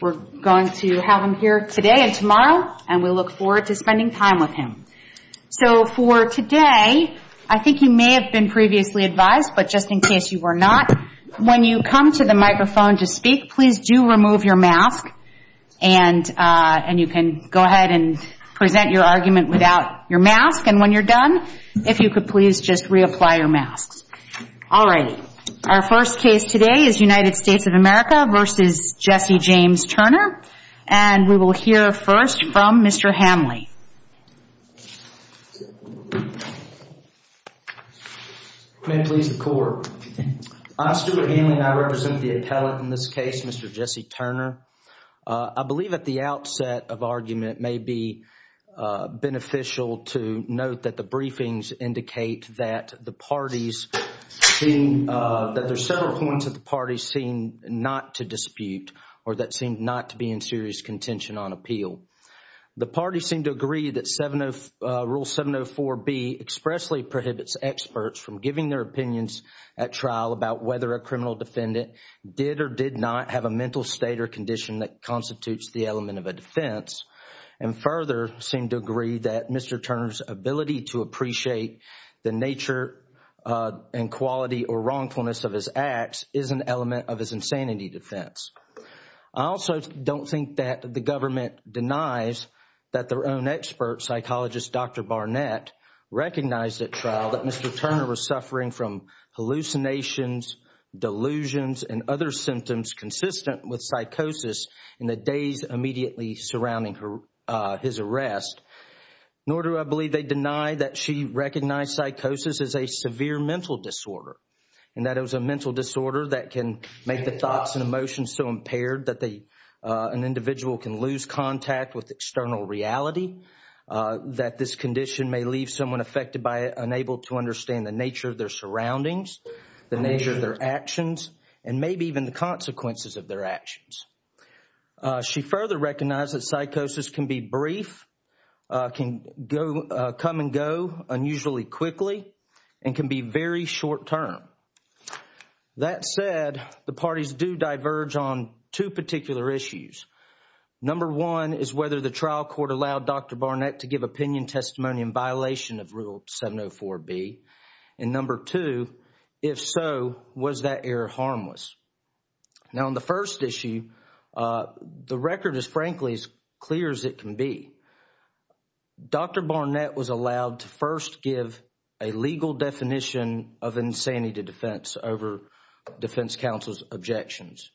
We're going to have him here today and tomorrow, and we look forward to spending time with him. So for today, I think you may have been previously advised, but just in case you were not, when you come to the microphone to speak, please do remove your mask and you can go ahead and present your argument without your mask. And when you're done, if you could please just reapply your masks. All righty. Our first case today is United States of America v. Jesse James Turner. And we will hear first from Mr. Hanley. May it please the Court, I'm Stuart Hanley and I represent the appellate in this case, Mr. Jesse Turner. I believe at the outset of argument, it may be beneficial to note that the briefings indicate that the parties seem, that there's several points that the parties seem not to dispute or that seemed not to be in serious contention on appeal. The parties seem to agree that Rule 704B expressly prohibits experts from giving their opinions at trial about whether a criminal defendant did or did not have a mental state or condition that constitutes the element of a defense. And further, seem to agree that Mr. Turner's ability to appreciate the nature and quality or wrongfulness of his acts is an element of his insanity defense. I also don't think that the government denies that their own expert psychologist, Dr. Barnett, recognized at trial that Mr. Turner was suffering from hallucinations, delusions and other symptoms consistent with psychosis in the days immediately surrounding his arrest. Nor do I believe they deny that she recognized psychosis as a severe mental disorder and that it was a mental disorder that can make the thoughts and emotions so impaired that an individual can lose contact with external reality, that this condition may leave someone affected by it unable to understand the nature of their surroundings, the nature of their actions and maybe even the consequences of their actions. She further recognized that psychosis can be brief, can come and go unusually quickly and can be very short term. That said, the parties do diverge on two particular issues. Number one is whether the trial court allowed Dr. Barnett to give opinion, testimony and violation of Rule 704B. And number two, if so, was that error harmless? Now, on the first issue, the record is frankly as clear as it can be. Dr. Barnett was allowed to first give a legal definition of insanity defense over defense counsel's objections.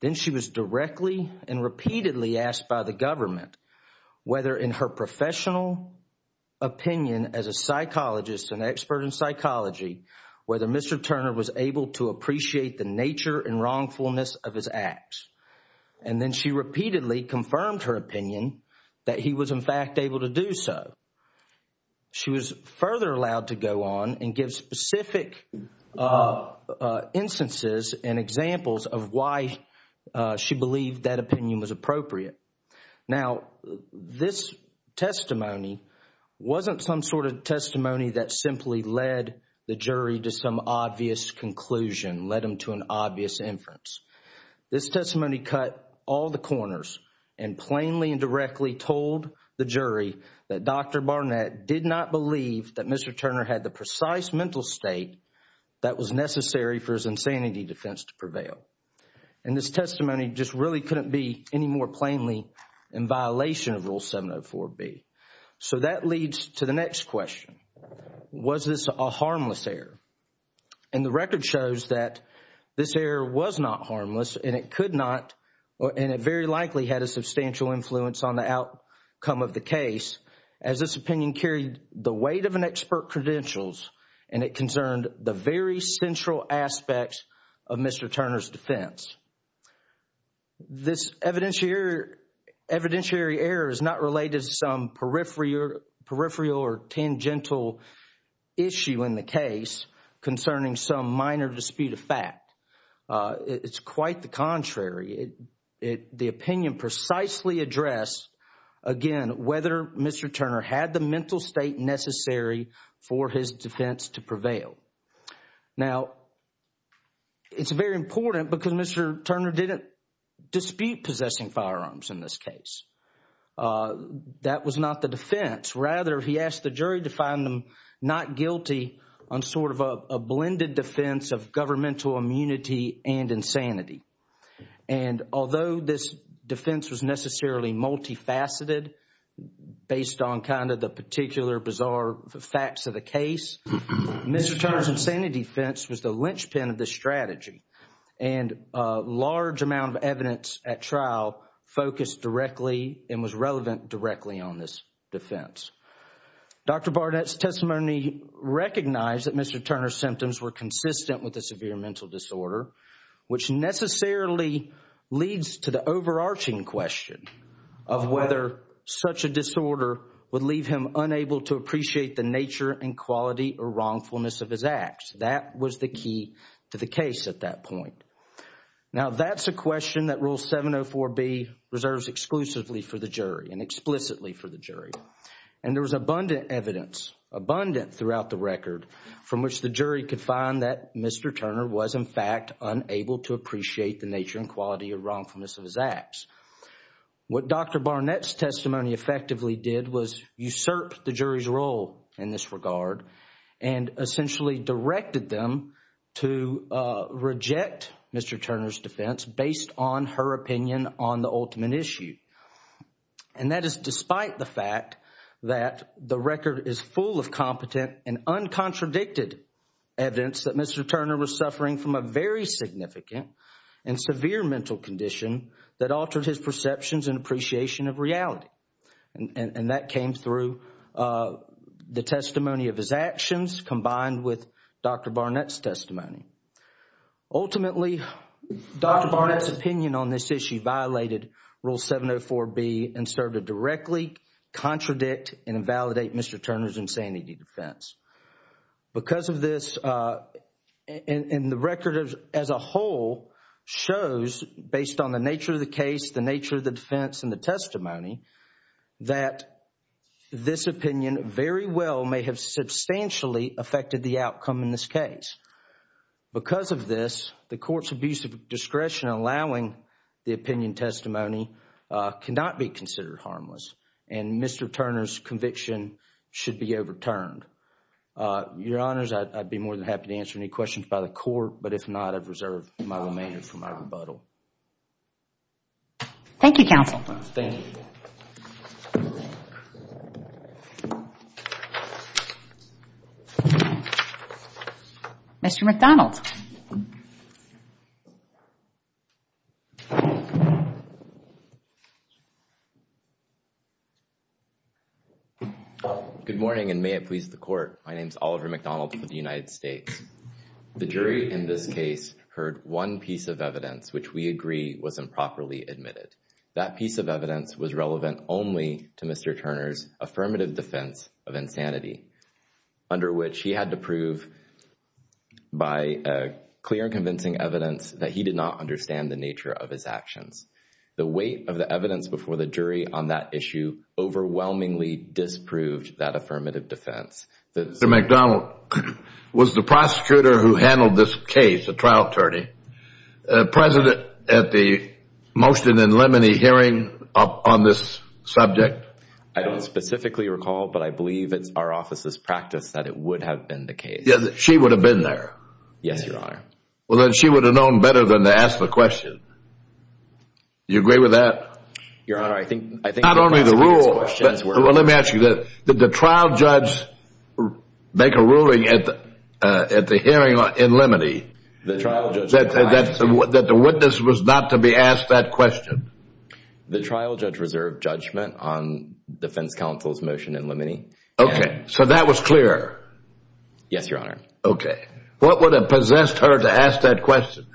Then she was directly and repeatedly asked by the government whether in her professional opinion as a psychologist and expert in psychology, whether Mr. Turner was able to appreciate the nature and wrongfulness of his acts. And then she repeatedly confirmed her opinion that he was in fact able to do so. She was further allowed to go on and give specific instances and examples of why she believed that opinion was appropriate. Now, this testimony wasn't some sort of testimony that simply led the jury to some obvious conclusion, led them to an obvious inference. This testimony cut all the corners and plainly and directly told the jury that Dr. Barnett did not believe that Mr. Turner had the precise mental state that was necessary for his insanity defense to prevail. And this testimony just really couldn't be any more plainly in violation of Rule 704B. So that leads to the next question. Was this a harmless error? And the record shows that this error was not harmless and it could not and it very likely had a substantial influence on the outcome of the case as this opinion carried the weight of an expert credentials and it concerned the very central aspects of Mr. Turner's defense. This evidentiary error is not related to some peripheral or tangential issue in the case concerning some minor dispute of fact. The opinion precisely addressed, again, whether Mr. Turner had the mental state necessary for his defense to prevail. Now, it's very important because Mr. Turner didn't dispute possessing firearms in this case. That was not the defense. Rather, he asked the jury to find him not guilty on sort of a blended defense of governmental immunity and insanity. And although this defense was necessarily multifaceted based on kind of the particular bizarre facts of the case, Mr. Turner's insanity defense was the linchpin of the strategy and a large amount of evidence at trial focused directly and was relevant directly on this defense. Dr. Barnett's testimony recognized that Mr. Turner's symptoms were consistent with a severe mental disorder, which necessarily leads to the overarching question of whether such a disorder would leave him unable to appreciate the nature and quality or wrongfulness of his acts. That was the key to the case at that point. Now, that's a question that Rule 704B reserves exclusively for the jury and explicitly for the jury. And there was abundant evidence, abundant throughout the record, from which the jury could find that Mr. Turner was, in fact, unable to appreciate the nature and quality or wrongfulness of his acts. What Dr. Barnett's testimony effectively did was usurp the jury's role in this regard and essentially directed them to reject Mr. Turner's defense based on her opinion on the ultimate issue. And that is despite the fact that the record is full of competent and uncontradicted evidence that Mr. Turner was suffering from a very significant and severe mental condition that altered his perceptions and appreciation of reality. And that came through the testimony of his actions combined with Dr. Barnett's testimony. Ultimately, Dr. Barnett's opinion on this issue violated Rule 704B and served to directly contradict and invalidate Mr. Turner's insanity defense. Because of this, and the record as a whole shows, based on the nature of the case, the nature of the defense and the testimony, that this opinion very well may have substantially affected the outcome in this case. Because of this, the court's abuse of discretion allowing the opinion testimony cannot be considered harmless and Mr. Turner's conviction should be overturned. Your Honors, I'd be more than happy to answer any questions by the court, but if not, I've reserved my remainder for my rebuttal. Thank you, counsel. Thank you. Mr. McDonald. Good morning, and may it please the court. My name is Oliver McDonald with the United States. The jury in this case heard one piece of evidence which we agree was improperly admitted. That piece of evidence was relevant only to Mr. Turner's affirmative defense of insanity, under which he had to prove by clear and convincing evidence that he did not understand the nature of his actions. The weight of the evidence before the jury on that issue overwhelmingly disproved that affirmative defense. Mr. McDonald was the prosecutor who handled this case, the trial attorney. The president at the motion in Lemony hearing on this subject? I don't specifically recall, but I believe it's our office's practice that it would have been the case. Yeah, she would have been there? Yes, Your Honor. Well, then she would have known better than to ask the question. Do you agree with that? Your Honor, I think... Not only the rule, but let me ask you, did the trial judge make a ruling at the hearing in Lemony? The trial judge... That the witness was not to be asked that question? The trial judge reserved judgment on defense counsel's motion in Lemony. Okay, so that was clear? Yes, Your Honor. Okay. What would have possessed her to ask that question?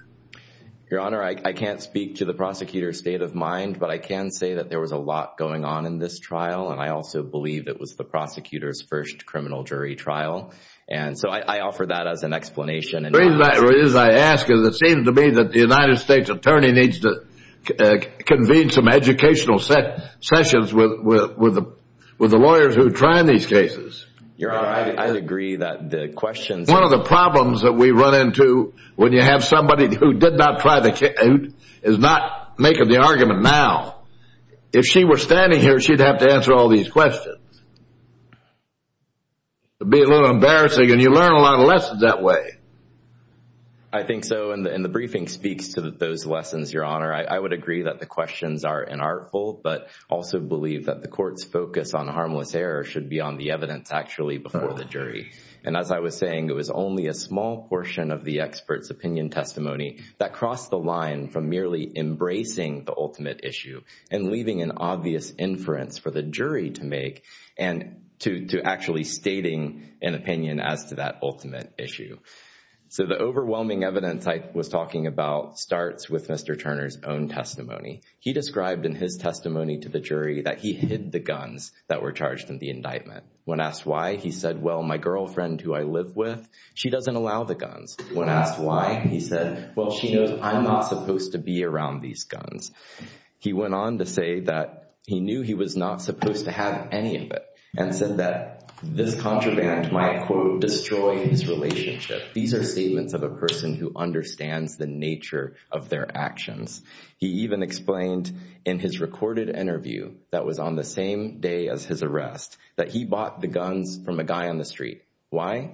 Your Honor, I can't speak to the prosecutor's state of mind, but I can say that there was a lot going on in this trial. And I also believe it was the prosecutor's first criminal jury trial. And so I offer that as an explanation. The reason I ask is it seems to me that the United States attorney needs to convene some educational sessions with the lawyers who are trying these cases. Your Honor, I agree that the questions... One of the problems that we run into when you have somebody who did not try the case, is not making the argument now. If she were standing here, she'd have to answer all these questions. It'd be a little embarrassing, and you learn a lot of lessons that way. I think so. And the briefing speaks to those lessons, Your Honor. I would agree that the questions are inartful, but also believe that the court's focus on harmless error should be on the evidence actually before the jury. And as I was saying, it was only a small portion of the expert's opinion testimony that crossed the line from merely embracing the ultimate issue, and leaving an obvious inference for the jury to make, and to actually stating an opinion as to that ultimate issue. So the overwhelming evidence I was talking about starts with Mr. Turner's own testimony. He described in his testimony to the jury that he hid the guns that were charged in the indictment. When asked why, he said, well, my girlfriend who I live with, she doesn't allow the guns. When asked why, he said, well, she knows I'm not supposed to be around these guns. He went on to say that he knew he was not supposed to have any of it, and said that this contraband might, quote, destroy his relationship. These are statements of a person who understands the nature of their actions. He even explained in his recorded interview that was on the same day as his arrest, that he bought the guns from a guy on the street. Why?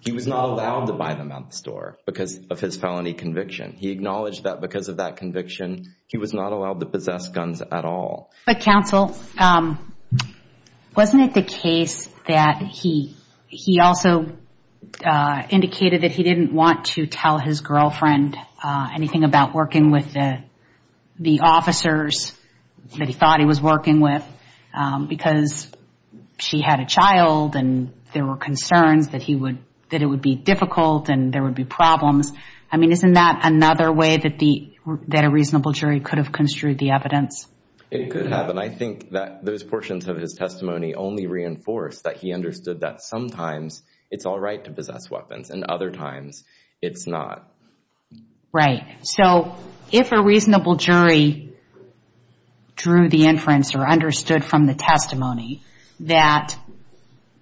He was not allowed to buy them at the store because of his felony conviction. He acknowledged that because of that conviction, he was not allowed to possess guns at all. But counsel, wasn't it the case that he also indicated that he didn't want to tell his girlfriend anything about working with the officers that he thought he was working with? Because she had a child, and there were concerns that it would be difficult, and there would be problems. I mean, isn't that another way that a reasonable jury could have construed the evidence? It could have. And I think that those portions of his testimony only reinforce that he understood that sometimes it's all right to possess weapons, and other times it's not. Right. So if a reasonable jury drew the inference or understood from the testimony that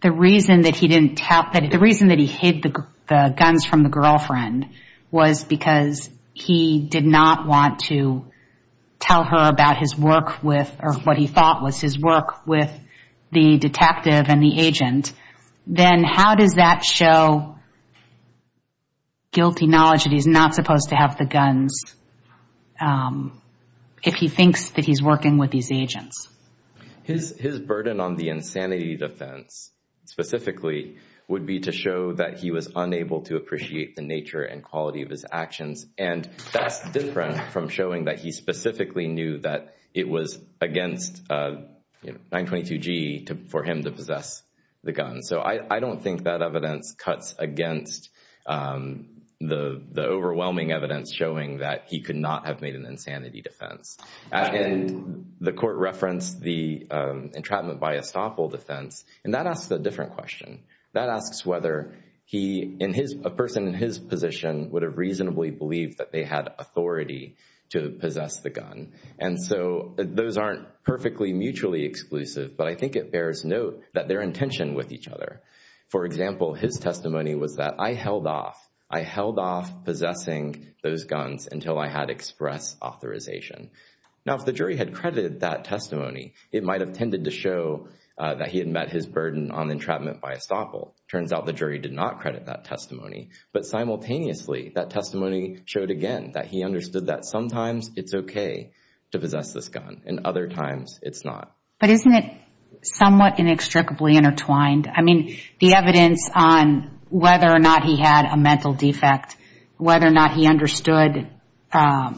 the reason that he didn't tell, that the reason that he hid the guns from the girlfriend was because he did not want to tell her about his work with, or what he thought was his work with the detective and the agent, then how does that show guilty knowledge that he's not supposed to have the guns if he thinks that he's working with these agents? His burden on the insanity defense specifically would be to show that he was unable to appreciate the nature and quality of his actions, and that's different from showing that he specifically knew that it was against 922G for him to possess the guns. So I don't think that evidence cuts against the overwhelming evidence showing that he could not have made an insanity defense. And the court referenced the entrapment by estoppel defense, and that asks a different question. That asks whether a person in his position would have reasonably believed that they had authority to possess the gun. And so those aren't perfectly mutually exclusive, but I think it bears note that they're in tension with each other. For example, his testimony was that, I held off. I held off possessing those guns until I had express authorization. Now, if the jury had credited that testimony, it might have tended to show that he had met his burden on entrapment by estoppel. Turns out the jury did not credit that testimony. But simultaneously, that testimony showed again that he understood that sometimes it's okay to possess this gun, and other times it's not. But isn't it somewhat inextricably intertwined? I mean, the evidence on whether or not he had a mental defect, whether or not he understood the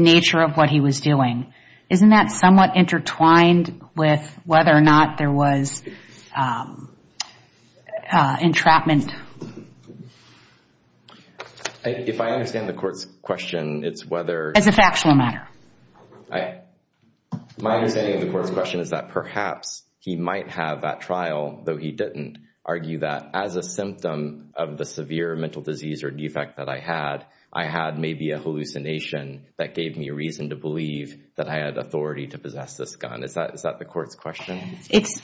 nature of what he was doing, isn't that somewhat intertwined with whether or not there was entrapment? If I understand the court's question, it's whether— As a factual matter. My understanding of the court's question is that perhaps he might have that trial, though he didn't, argue that as a symptom of the severe mental disease or defect that I had, I had maybe a hallucination that gave me reason to believe that I had authority to possess this gun. Is that the court's question? It's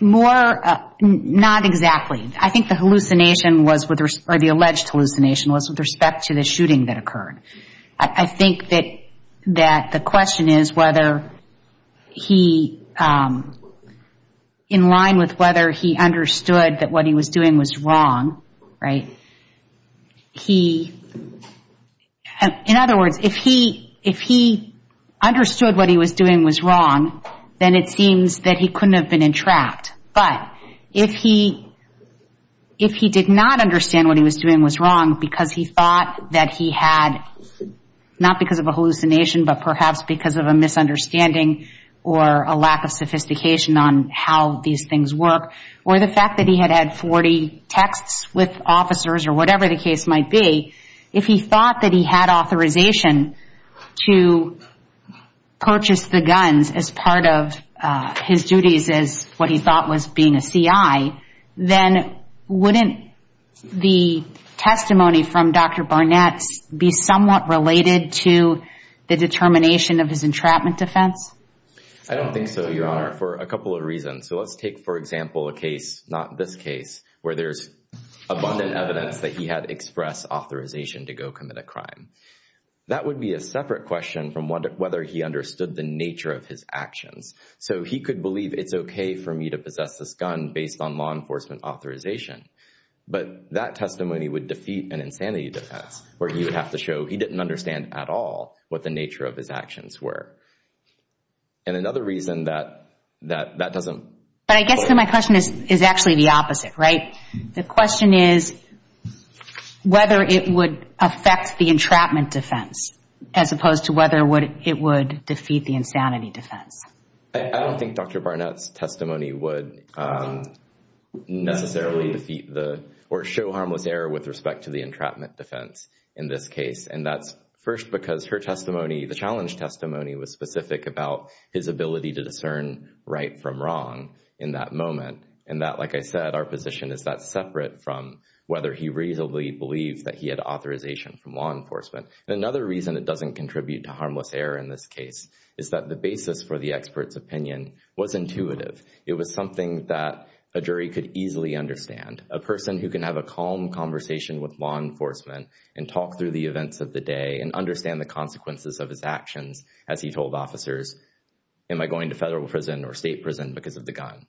more—not exactly. I think the hallucination was—or the alleged hallucination was with respect to the shooting that occurred. I think that the question is whether he—in line with whether he understood that what he was doing was wrong, right, he—in other words, if he understood what he was doing was wrong, then it seems that he couldn't have been entrapped. But if he did not understand what he was doing was wrong because he thought that he had—not because of a hallucination, but perhaps because of a misunderstanding or a lack of sophistication on how these things work, or the fact that he had had 40 texts with officers or whatever the case might be, if he thought that he had authorization to purchase the guns as part of his duties as what he thought was being a CI, then wouldn't the testimony from Dr. Barnett be somewhat related to the determination of his entrapment defense? I don't think so, Your Honor, for a couple of reasons. So let's take, for example, a case—not this case—where there's abundant evidence that he had expressed authorization to go commit a crime. That would be a separate question from whether he understood the nature of his actions. So he could believe it's okay for me to possess this gun based on law enforcement authorization, but that testimony would defeat an insanity defense where he would have to show he didn't understand at all what the nature of his actions were. And another reason that that doesn't— But I guess my question is actually the opposite, right? The question is whether it would affect the entrapment defense as opposed to whether it would defeat the insanity defense. I don't think Dr. Barnett's testimony would necessarily defeat or show harmless error with respect to the entrapment defense in this case. And that's first because her testimony, the challenge testimony, was specific about his ability to discern right from wrong in that moment. And that, like I said, our position is that's separate from whether he reasonably believes that he had authorization from law enforcement. And another reason it doesn't contribute to harmless error in this case is that the basis for the expert's opinion was intuitive. It was something that a jury could easily understand. A person who can have a calm conversation with law enforcement and talk through the events of the day and understand the consequences of his actions as he told officers, am I going to federal prison or state prison because of the gun?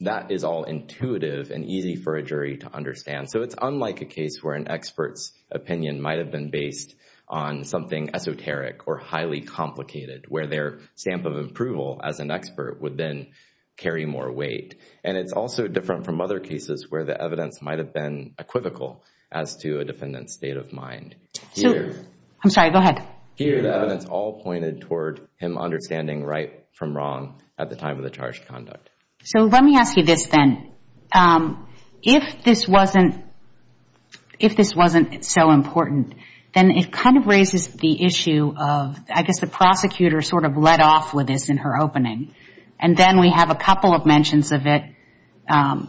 That is all intuitive and easy for a jury to understand. So it's unlike a case where an expert's opinion might have been based on something esoteric or highly complicated, where their stamp of approval as an expert would then carry more weight. And it's also different from other cases where the evidence might have been equivocal as to a defendant's state of mind. So, I'm sorry, go ahead. Here, the evidence all pointed toward him understanding right from wrong at the time of the charged conduct. So, let me ask you this then. If this wasn't, if this wasn't so important, then it kind of raises the issue of, I guess the prosecutor sort of led off with this in her opening. And then we have a couple of mentions of it,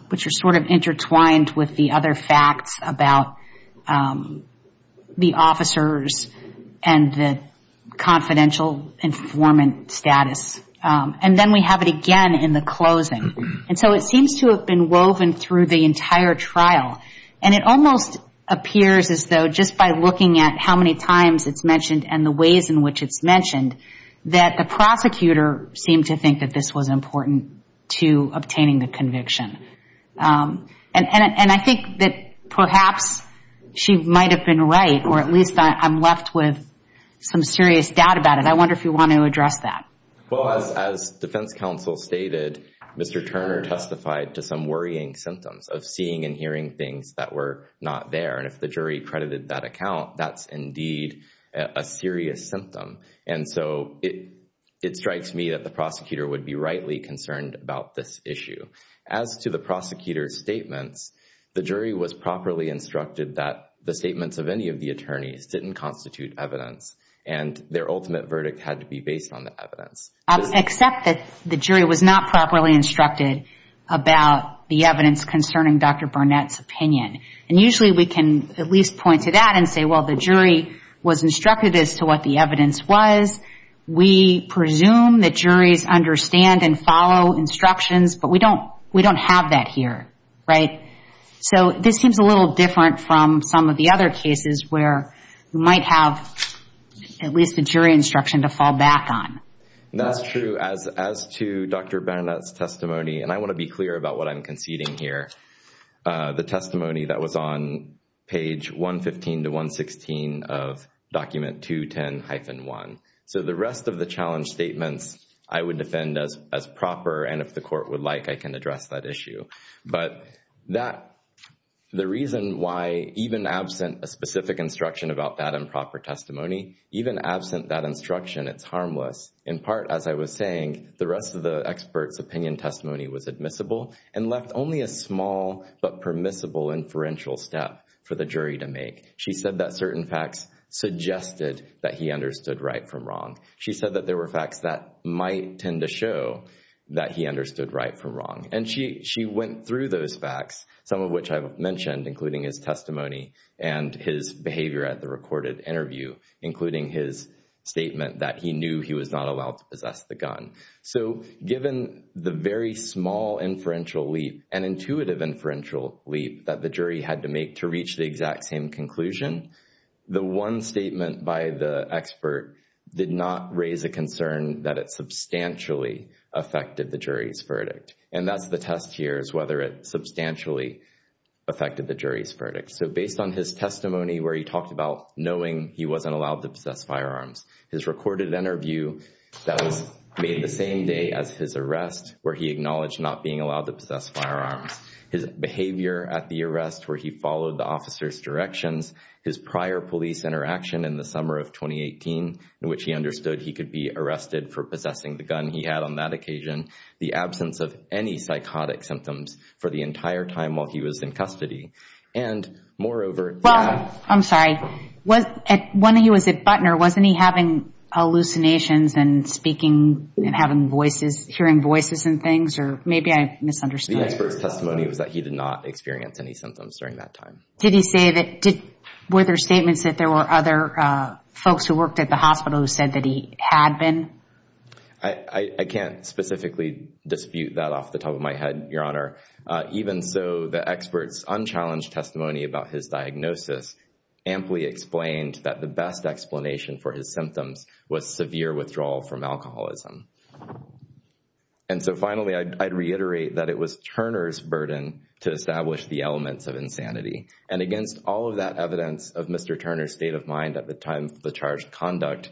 which are sort of intertwined with the other facts about the officers and the confidential informant status. And then we have it again in the closing. And so it seems to have been woven through the entire trial. And it almost appears as though just by looking at how many times it's mentioned and the ways in which it's mentioned, that the prosecutor seemed to think that this was important to obtaining the conviction. And I think that perhaps she might have been right, or at least I'm left with some serious doubt about it. I wonder if you want to address that. Well, as defense counsel stated, Mr. Turner testified to some worrying symptoms of seeing and hearing things that were not there. And if the jury credited that account, that's indeed a serious symptom. And so it strikes me that the prosecutor would be rightly concerned about this issue. As to the prosecutor's statements, the jury was properly instructed that the statements of any of the attorneys didn't constitute evidence. And their ultimate verdict had to be based on the evidence. Except that the jury was not properly instructed about the evidence concerning Dr. Barnett's opinion. And usually we can at least point to that and say, well, the jury was instructed as to what the evidence was. We presume that juries understand and follow instructions, but we don't have that here. So this seems a little different from some of the other cases where you might have at least the jury instruction to fall back on. That's true. As to Dr. Barnett's testimony, and I want to be clear about what I'm conceding here, the testimony that was on page 115 to 116 of document 210-1. So the rest of the challenge statements I would defend as proper. And if the court would like, I can address that issue. But the reason why even absent a specific instruction about that improper testimony, even absent that instruction, it's harmless. In part, as I was saying, the rest of the expert's opinion testimony was admissible and left only a small but permissible inferential step for the jury to make. She said that certain facts suggested that he understood right from wrong. She said that there were facts that might tend to show that he understood right from wrong. And she went through those facts, some of which I've mentioned, including his testimony and his behavior at the recorded interview, including his statement that he knew he was not allowed to possess the gun. So given the very small inferential leap, an intuitive inferential leap that the jury had to make to reach the exact same conclusion, the one statement by the expert did not raise a concern that it substantially affected the jury's verdict. And that's the test here is whether it substantially affected the jury's verdict. So based on his testimony where he talked about knowing he wasn't allowed to possess firearms, his recorded interview that was made the same day as his arrest where he acknowledged not being allowed to possess firearms. His behavior at the arrest where he followed the officer's directions, his prior police interaction in the summer of 2018, in which he understood he could be arrested for possessing the gun he had on that occasion. The absence of any psychotic symptoms for the entire time while he was in custody. And moreover- Well, I'm sorry. When he was at Butner, wasn't he having hallucinations and speaking and having voices, hearing voices and things? Or maybe I misunderstood. The expert's testimony was that he did not experience any symptoms during that time. Did he say that, were there statements that there were other folks who worked at the hospital who said that he had been? I can't specifically dispute that off the top of my head, Your Honor. Even so, the expert's unchallenged testimony about his diagnosis amply explained that the best explanation for his symptoms was severe withdrawal from alcoholism. And so finally, I'd reiterate that it was Turner's burden to establish the elements of insanity. And against all of that evidence of Mr. Turner's state of mind at the time of the charged conduct,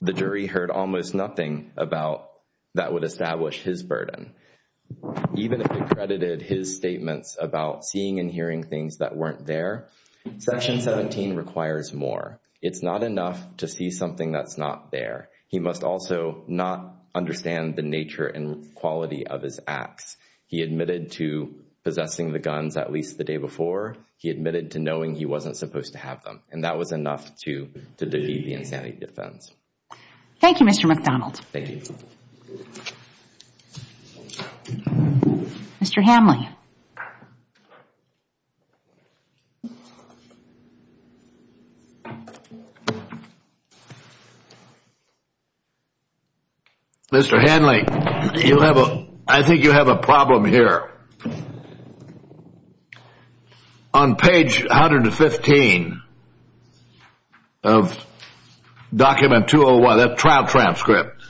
the jury heard almost nothing about that would establish his burden. Even if they credited his statements about seeing and hearing things that weren't there, Section 17 requires more. It's not enough to see something that's not there. He must also not understand the nature and quality of his acts. He admitted to possessing the guns at least the day before. He admitted to knowing he wasn't supposed to have them. And that was enough to defeat the insanity defense. Thank you, Mr. McDonald. Thank you. Mr. Hamley. Mr. Hamley, you have a, I think you have a problem here. On page 115 of document 201, that trial transcript.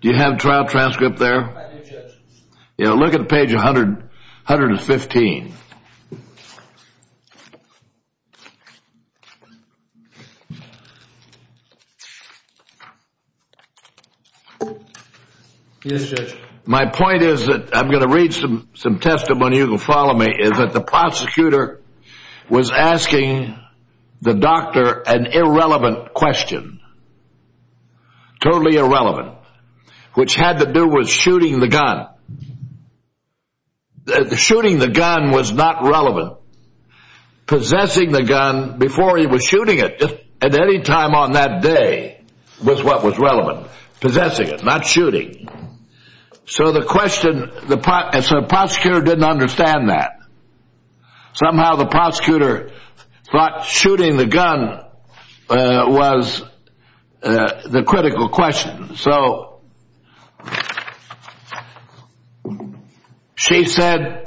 Do you have a trial transcript there? I do, Judge. Yeah, look at page 115. Yes, Judge. My point is that I'm going to read some testimony. You can follow me. Is that the prosecutor was asking the doctor an irrelevant question. Totally irrelevant, which had to do with shooting the gun. Shooting the gun was not relevant. Possessing the gun before he was shooting it at any time on that day. With what was relevant. Possessing it, not shooting. So the question, the prosecutor didn't understand that. Somehow the prosecutor thought shooting the gun was the critical question. So she said,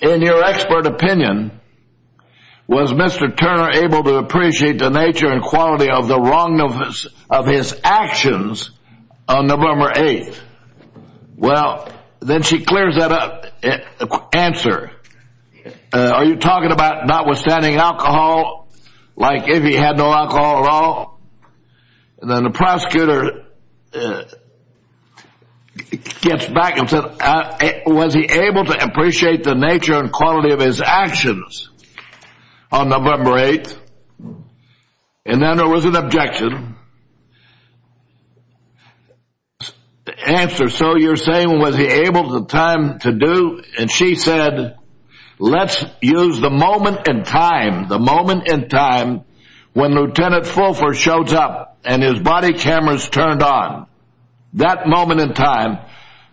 in your expert opinion, was Mr. Turner able to appreciate the nature and quality of the wrong of his actions on November 8th? Well, then she clears that up. Answer. Are you talking about notwithstanding alcohol? Like if he had no alcohol at all? And then the prosecutor gets back and said, was he able to appreciate the nature and quality of his actions on November 8th? And then there was an objection. Answer. So you're saying, was he able to time to do? And she said, let's use the moment in time, the moment in time when Lieutenant Fulford shows up and his body cameras turned on. That moment in time,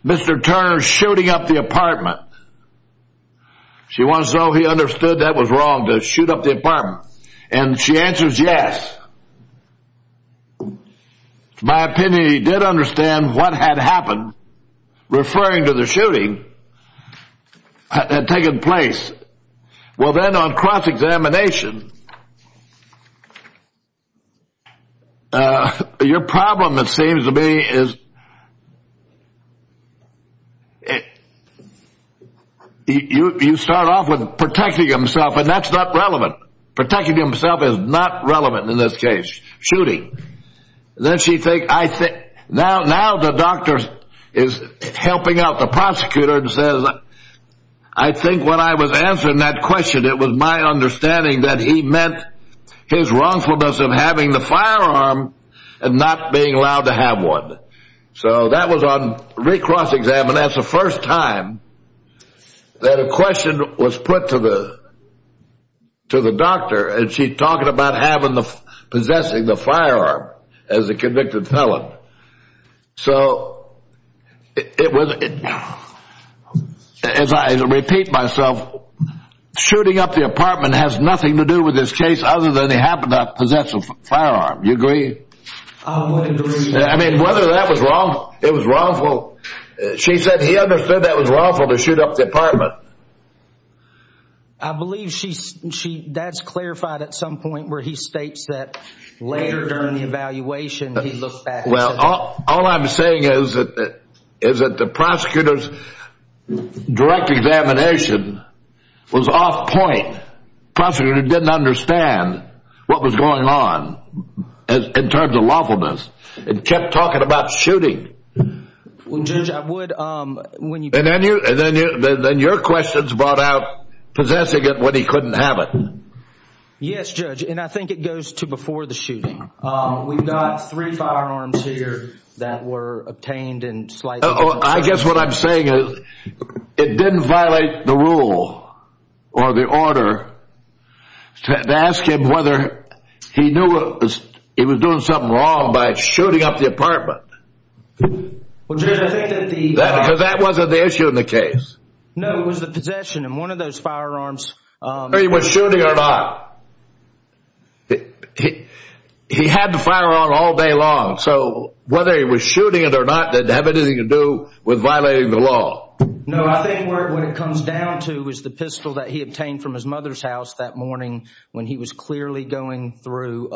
Mr. Turner's shooting up the apartment. She wants to know he understood that was wrong to shoot up the apartment. And she answers, yes. My opinion, he did understand what had happened. Referring to the shooting had taken place. Well, then on cross examination. Uh, your problem, it seems to me is. You start off with protecting himself, and that's not relevant. Protecting himself is not relevant in this case. Shooting. Then she think I think now, now the doctor is helping out the prosecutor and says, I think what I was answering that question, it was my understanding that he meant his wrongfulness of having the firearm and not being allowed to have one. So that was on recross exam. And that's the first time that a question was put to the to the doctor. And she's talking about having the possessing the firearm as a convicted felon. So it was as I repeat myself, shooting up the apartment has nothing to do with this case, other than they happen to possess a firearm. You agree? I mean, whether that was wrong, it was wrongful. She said he understood that was wrongful to shoot up the apartment. I believe she's she that's clarified at some point where he states that later during the evaluation, he looked back. All I'm saying is that is that the prosecutor's direct examination was off point. Prosecutor didn't understand what was going on in terms of lawfulness and kept talking about shooting. Judge, I would when you and then you and then your questions brought out possessing it when he couldn't have it. Yes, judge. And I think it goes to before the shooting. We've got three firearms here that were obtained and I guess what I'm saying is it didn't violate the rule or the order to ask him whether he knew he was doing something wrong by shooting up the apartment. Because that wasn't the issue in the case. No, it was the possession. And one of those firearms he was shooting or not. It he had to fire on all day long, so whether he was shooting it or not, that have anything to do with violating the law. No, I think what it comes down to is the pistol that he obtained from his mother's house that morning when he was clearly going through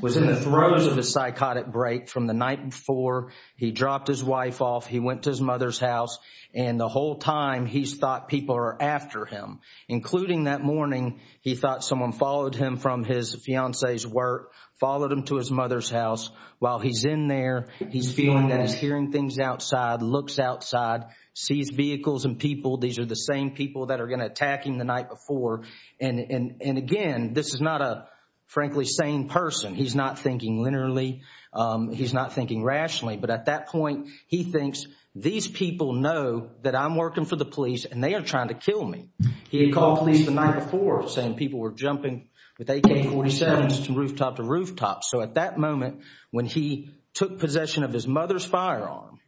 was in the throes of a psychotic break from the night before he dropped his wife off. He went to his mother's house and the whole time he's thought people are after him, including that morning. He thought someone followed him from his fiance's work, followed him to his mother's house. While he's in there, he's feeling that he's hearing things outside, looks outside, sees vehicles and people. These are the same people that are going to attack him the night before. And again, this is not a frankly sane person. He's not thinking linearly. He's not thinking rationally. But at that point, he thinks these people know that I'm working for the police and they are trying to kill me. He had called police the night before saying people were jumping with AK-47s from rooftop to rooftop. So at that moment, when he took possession of his mother's firearm,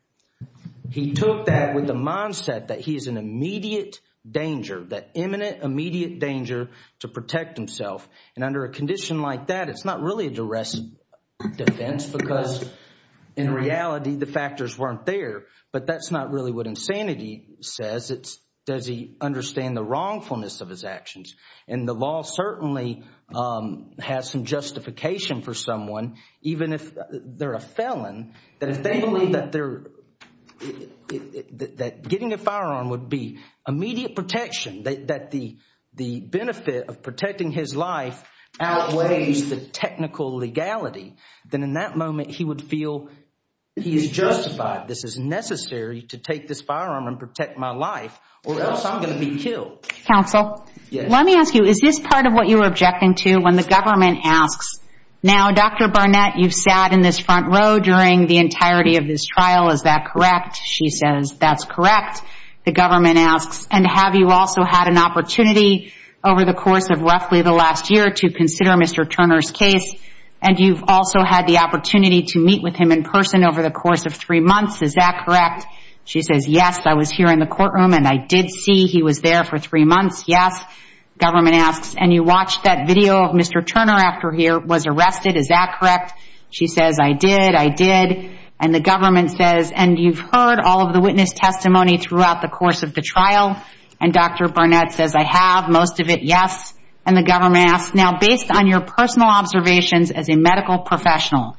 he took that with the mindset that he is in immediate danger, that imminent, immediate danger to protect himself. And under a condition like that, it's not really a duress defense because in reality, the factors weren't there. But that's not really what insanity says. Does he understand the wrongfulness of his actions? And the law certainly has some justification for someone, even if they're a felon, that if they believe that getting a firearm would be immediate protection, that the benefit of protecting his life outweighs the technical legality, then in that moment, he would feel he is justified. This is necessary to take this firearm and protect my life or else I'm going to be killed. Counsel, let me ask you, is this part of what you were objecting to when the government asks, now, Dr. Barnett, you've sat in this front row during the entirety of this trial, is that correct? She says, that's correct. The government asks, and have you also had an opportunity over the course of roughly the last year to consider Mr. Turner's case? And you've also had the opportunity to meet with him in person over the course of three months, is that correct? She says, yes, I was here in the courtroom and I did see he was there for three months, yes. Government asks, and you watched that video of Mr. Turner after he was arrested, is that correct? She says, I did, I did. And the government says, and you've heard all of the witness testimony throughout the course of the trial? And Dr. Barnett says, I have, most of it, yes. And the government asks, now, based on your personal observations as a medical professional,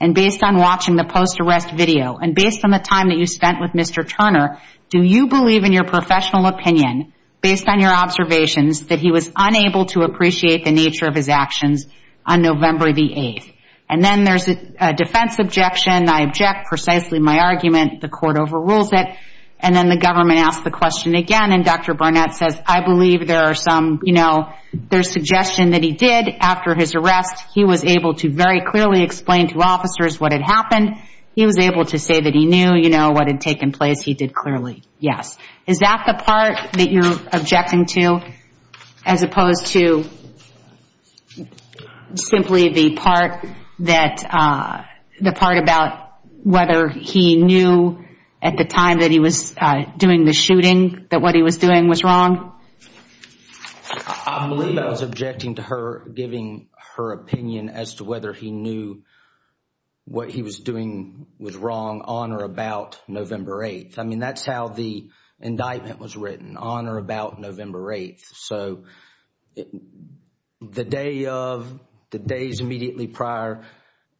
and based on watching the post-arrest video, and based on the time that you spent with Mr. Turner, do you believe in your professional opinion, based on your observations, that he was unable to appreciate the nature of his actions on November the 8th? And then there's a defense objection, I object precisely my argument, the court overrules it, and then the government asks the question again, and Dr. Barnett says, I believe there are some, you know, there's suggestion that he did, after his arrest, he was able to very clearly explain to officers what had happened, he was able to say that he knew, you know, what had taken place, he did clearly, yes. Is that the part that you're objecting to, as opposed to simply the part that, the part about whether he knew at the time that he was doing the shooting, that what he was doing was wrong? I believe I was objecting to her giving her opinion as to whether he knew what he was doing was wrong on or about November 8th. I mean, that's how the indictment was written, on or about November 8th. So the day of, the days immediately prior,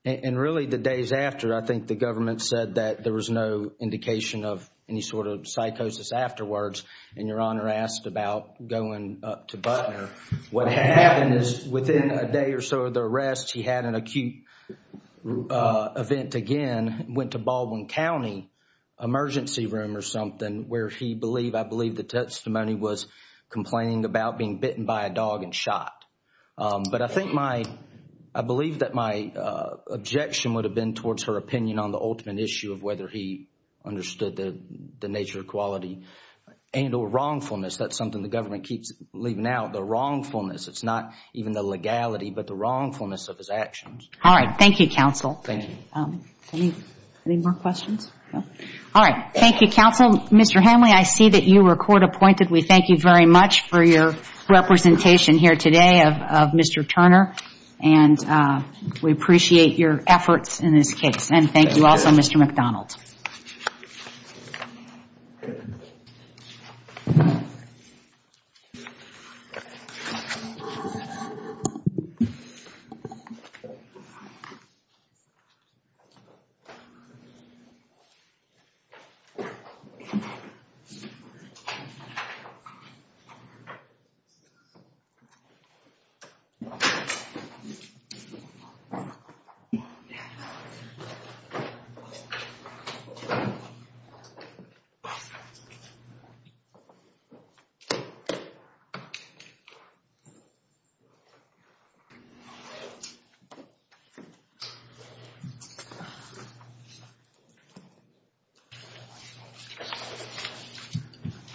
and really the days after, I think the government said that there was no indication of any sort of psychosis afterwards, and Your Honor asked about going up to Butner. What happened is within a day or so of the arrest, he had an acute event again, went to Baldwin County, emergency room or something, where he believed, I believe the testimony was complaining about being bitten by a dog and shot. But I think my, I believe that my objection would have been towards her opinion on the ultimate issue of whether he understood the nature of equality and or wrongfulness. That's something the government keeps leaving out, the wrongfulness. It's not even the legality, but the wrongfulness of his actions. All right. Thank you, counsel. Thank you. Any more questions? All right. Thank you, counsel. Mr. Hemley, I see that you were court appointed. We thank you very much for your representation here today of Mr. Turner, and we appreciate your efforts in this case. And thank you also, Mr. MacDonald. Thank you.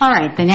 All right. Thank you.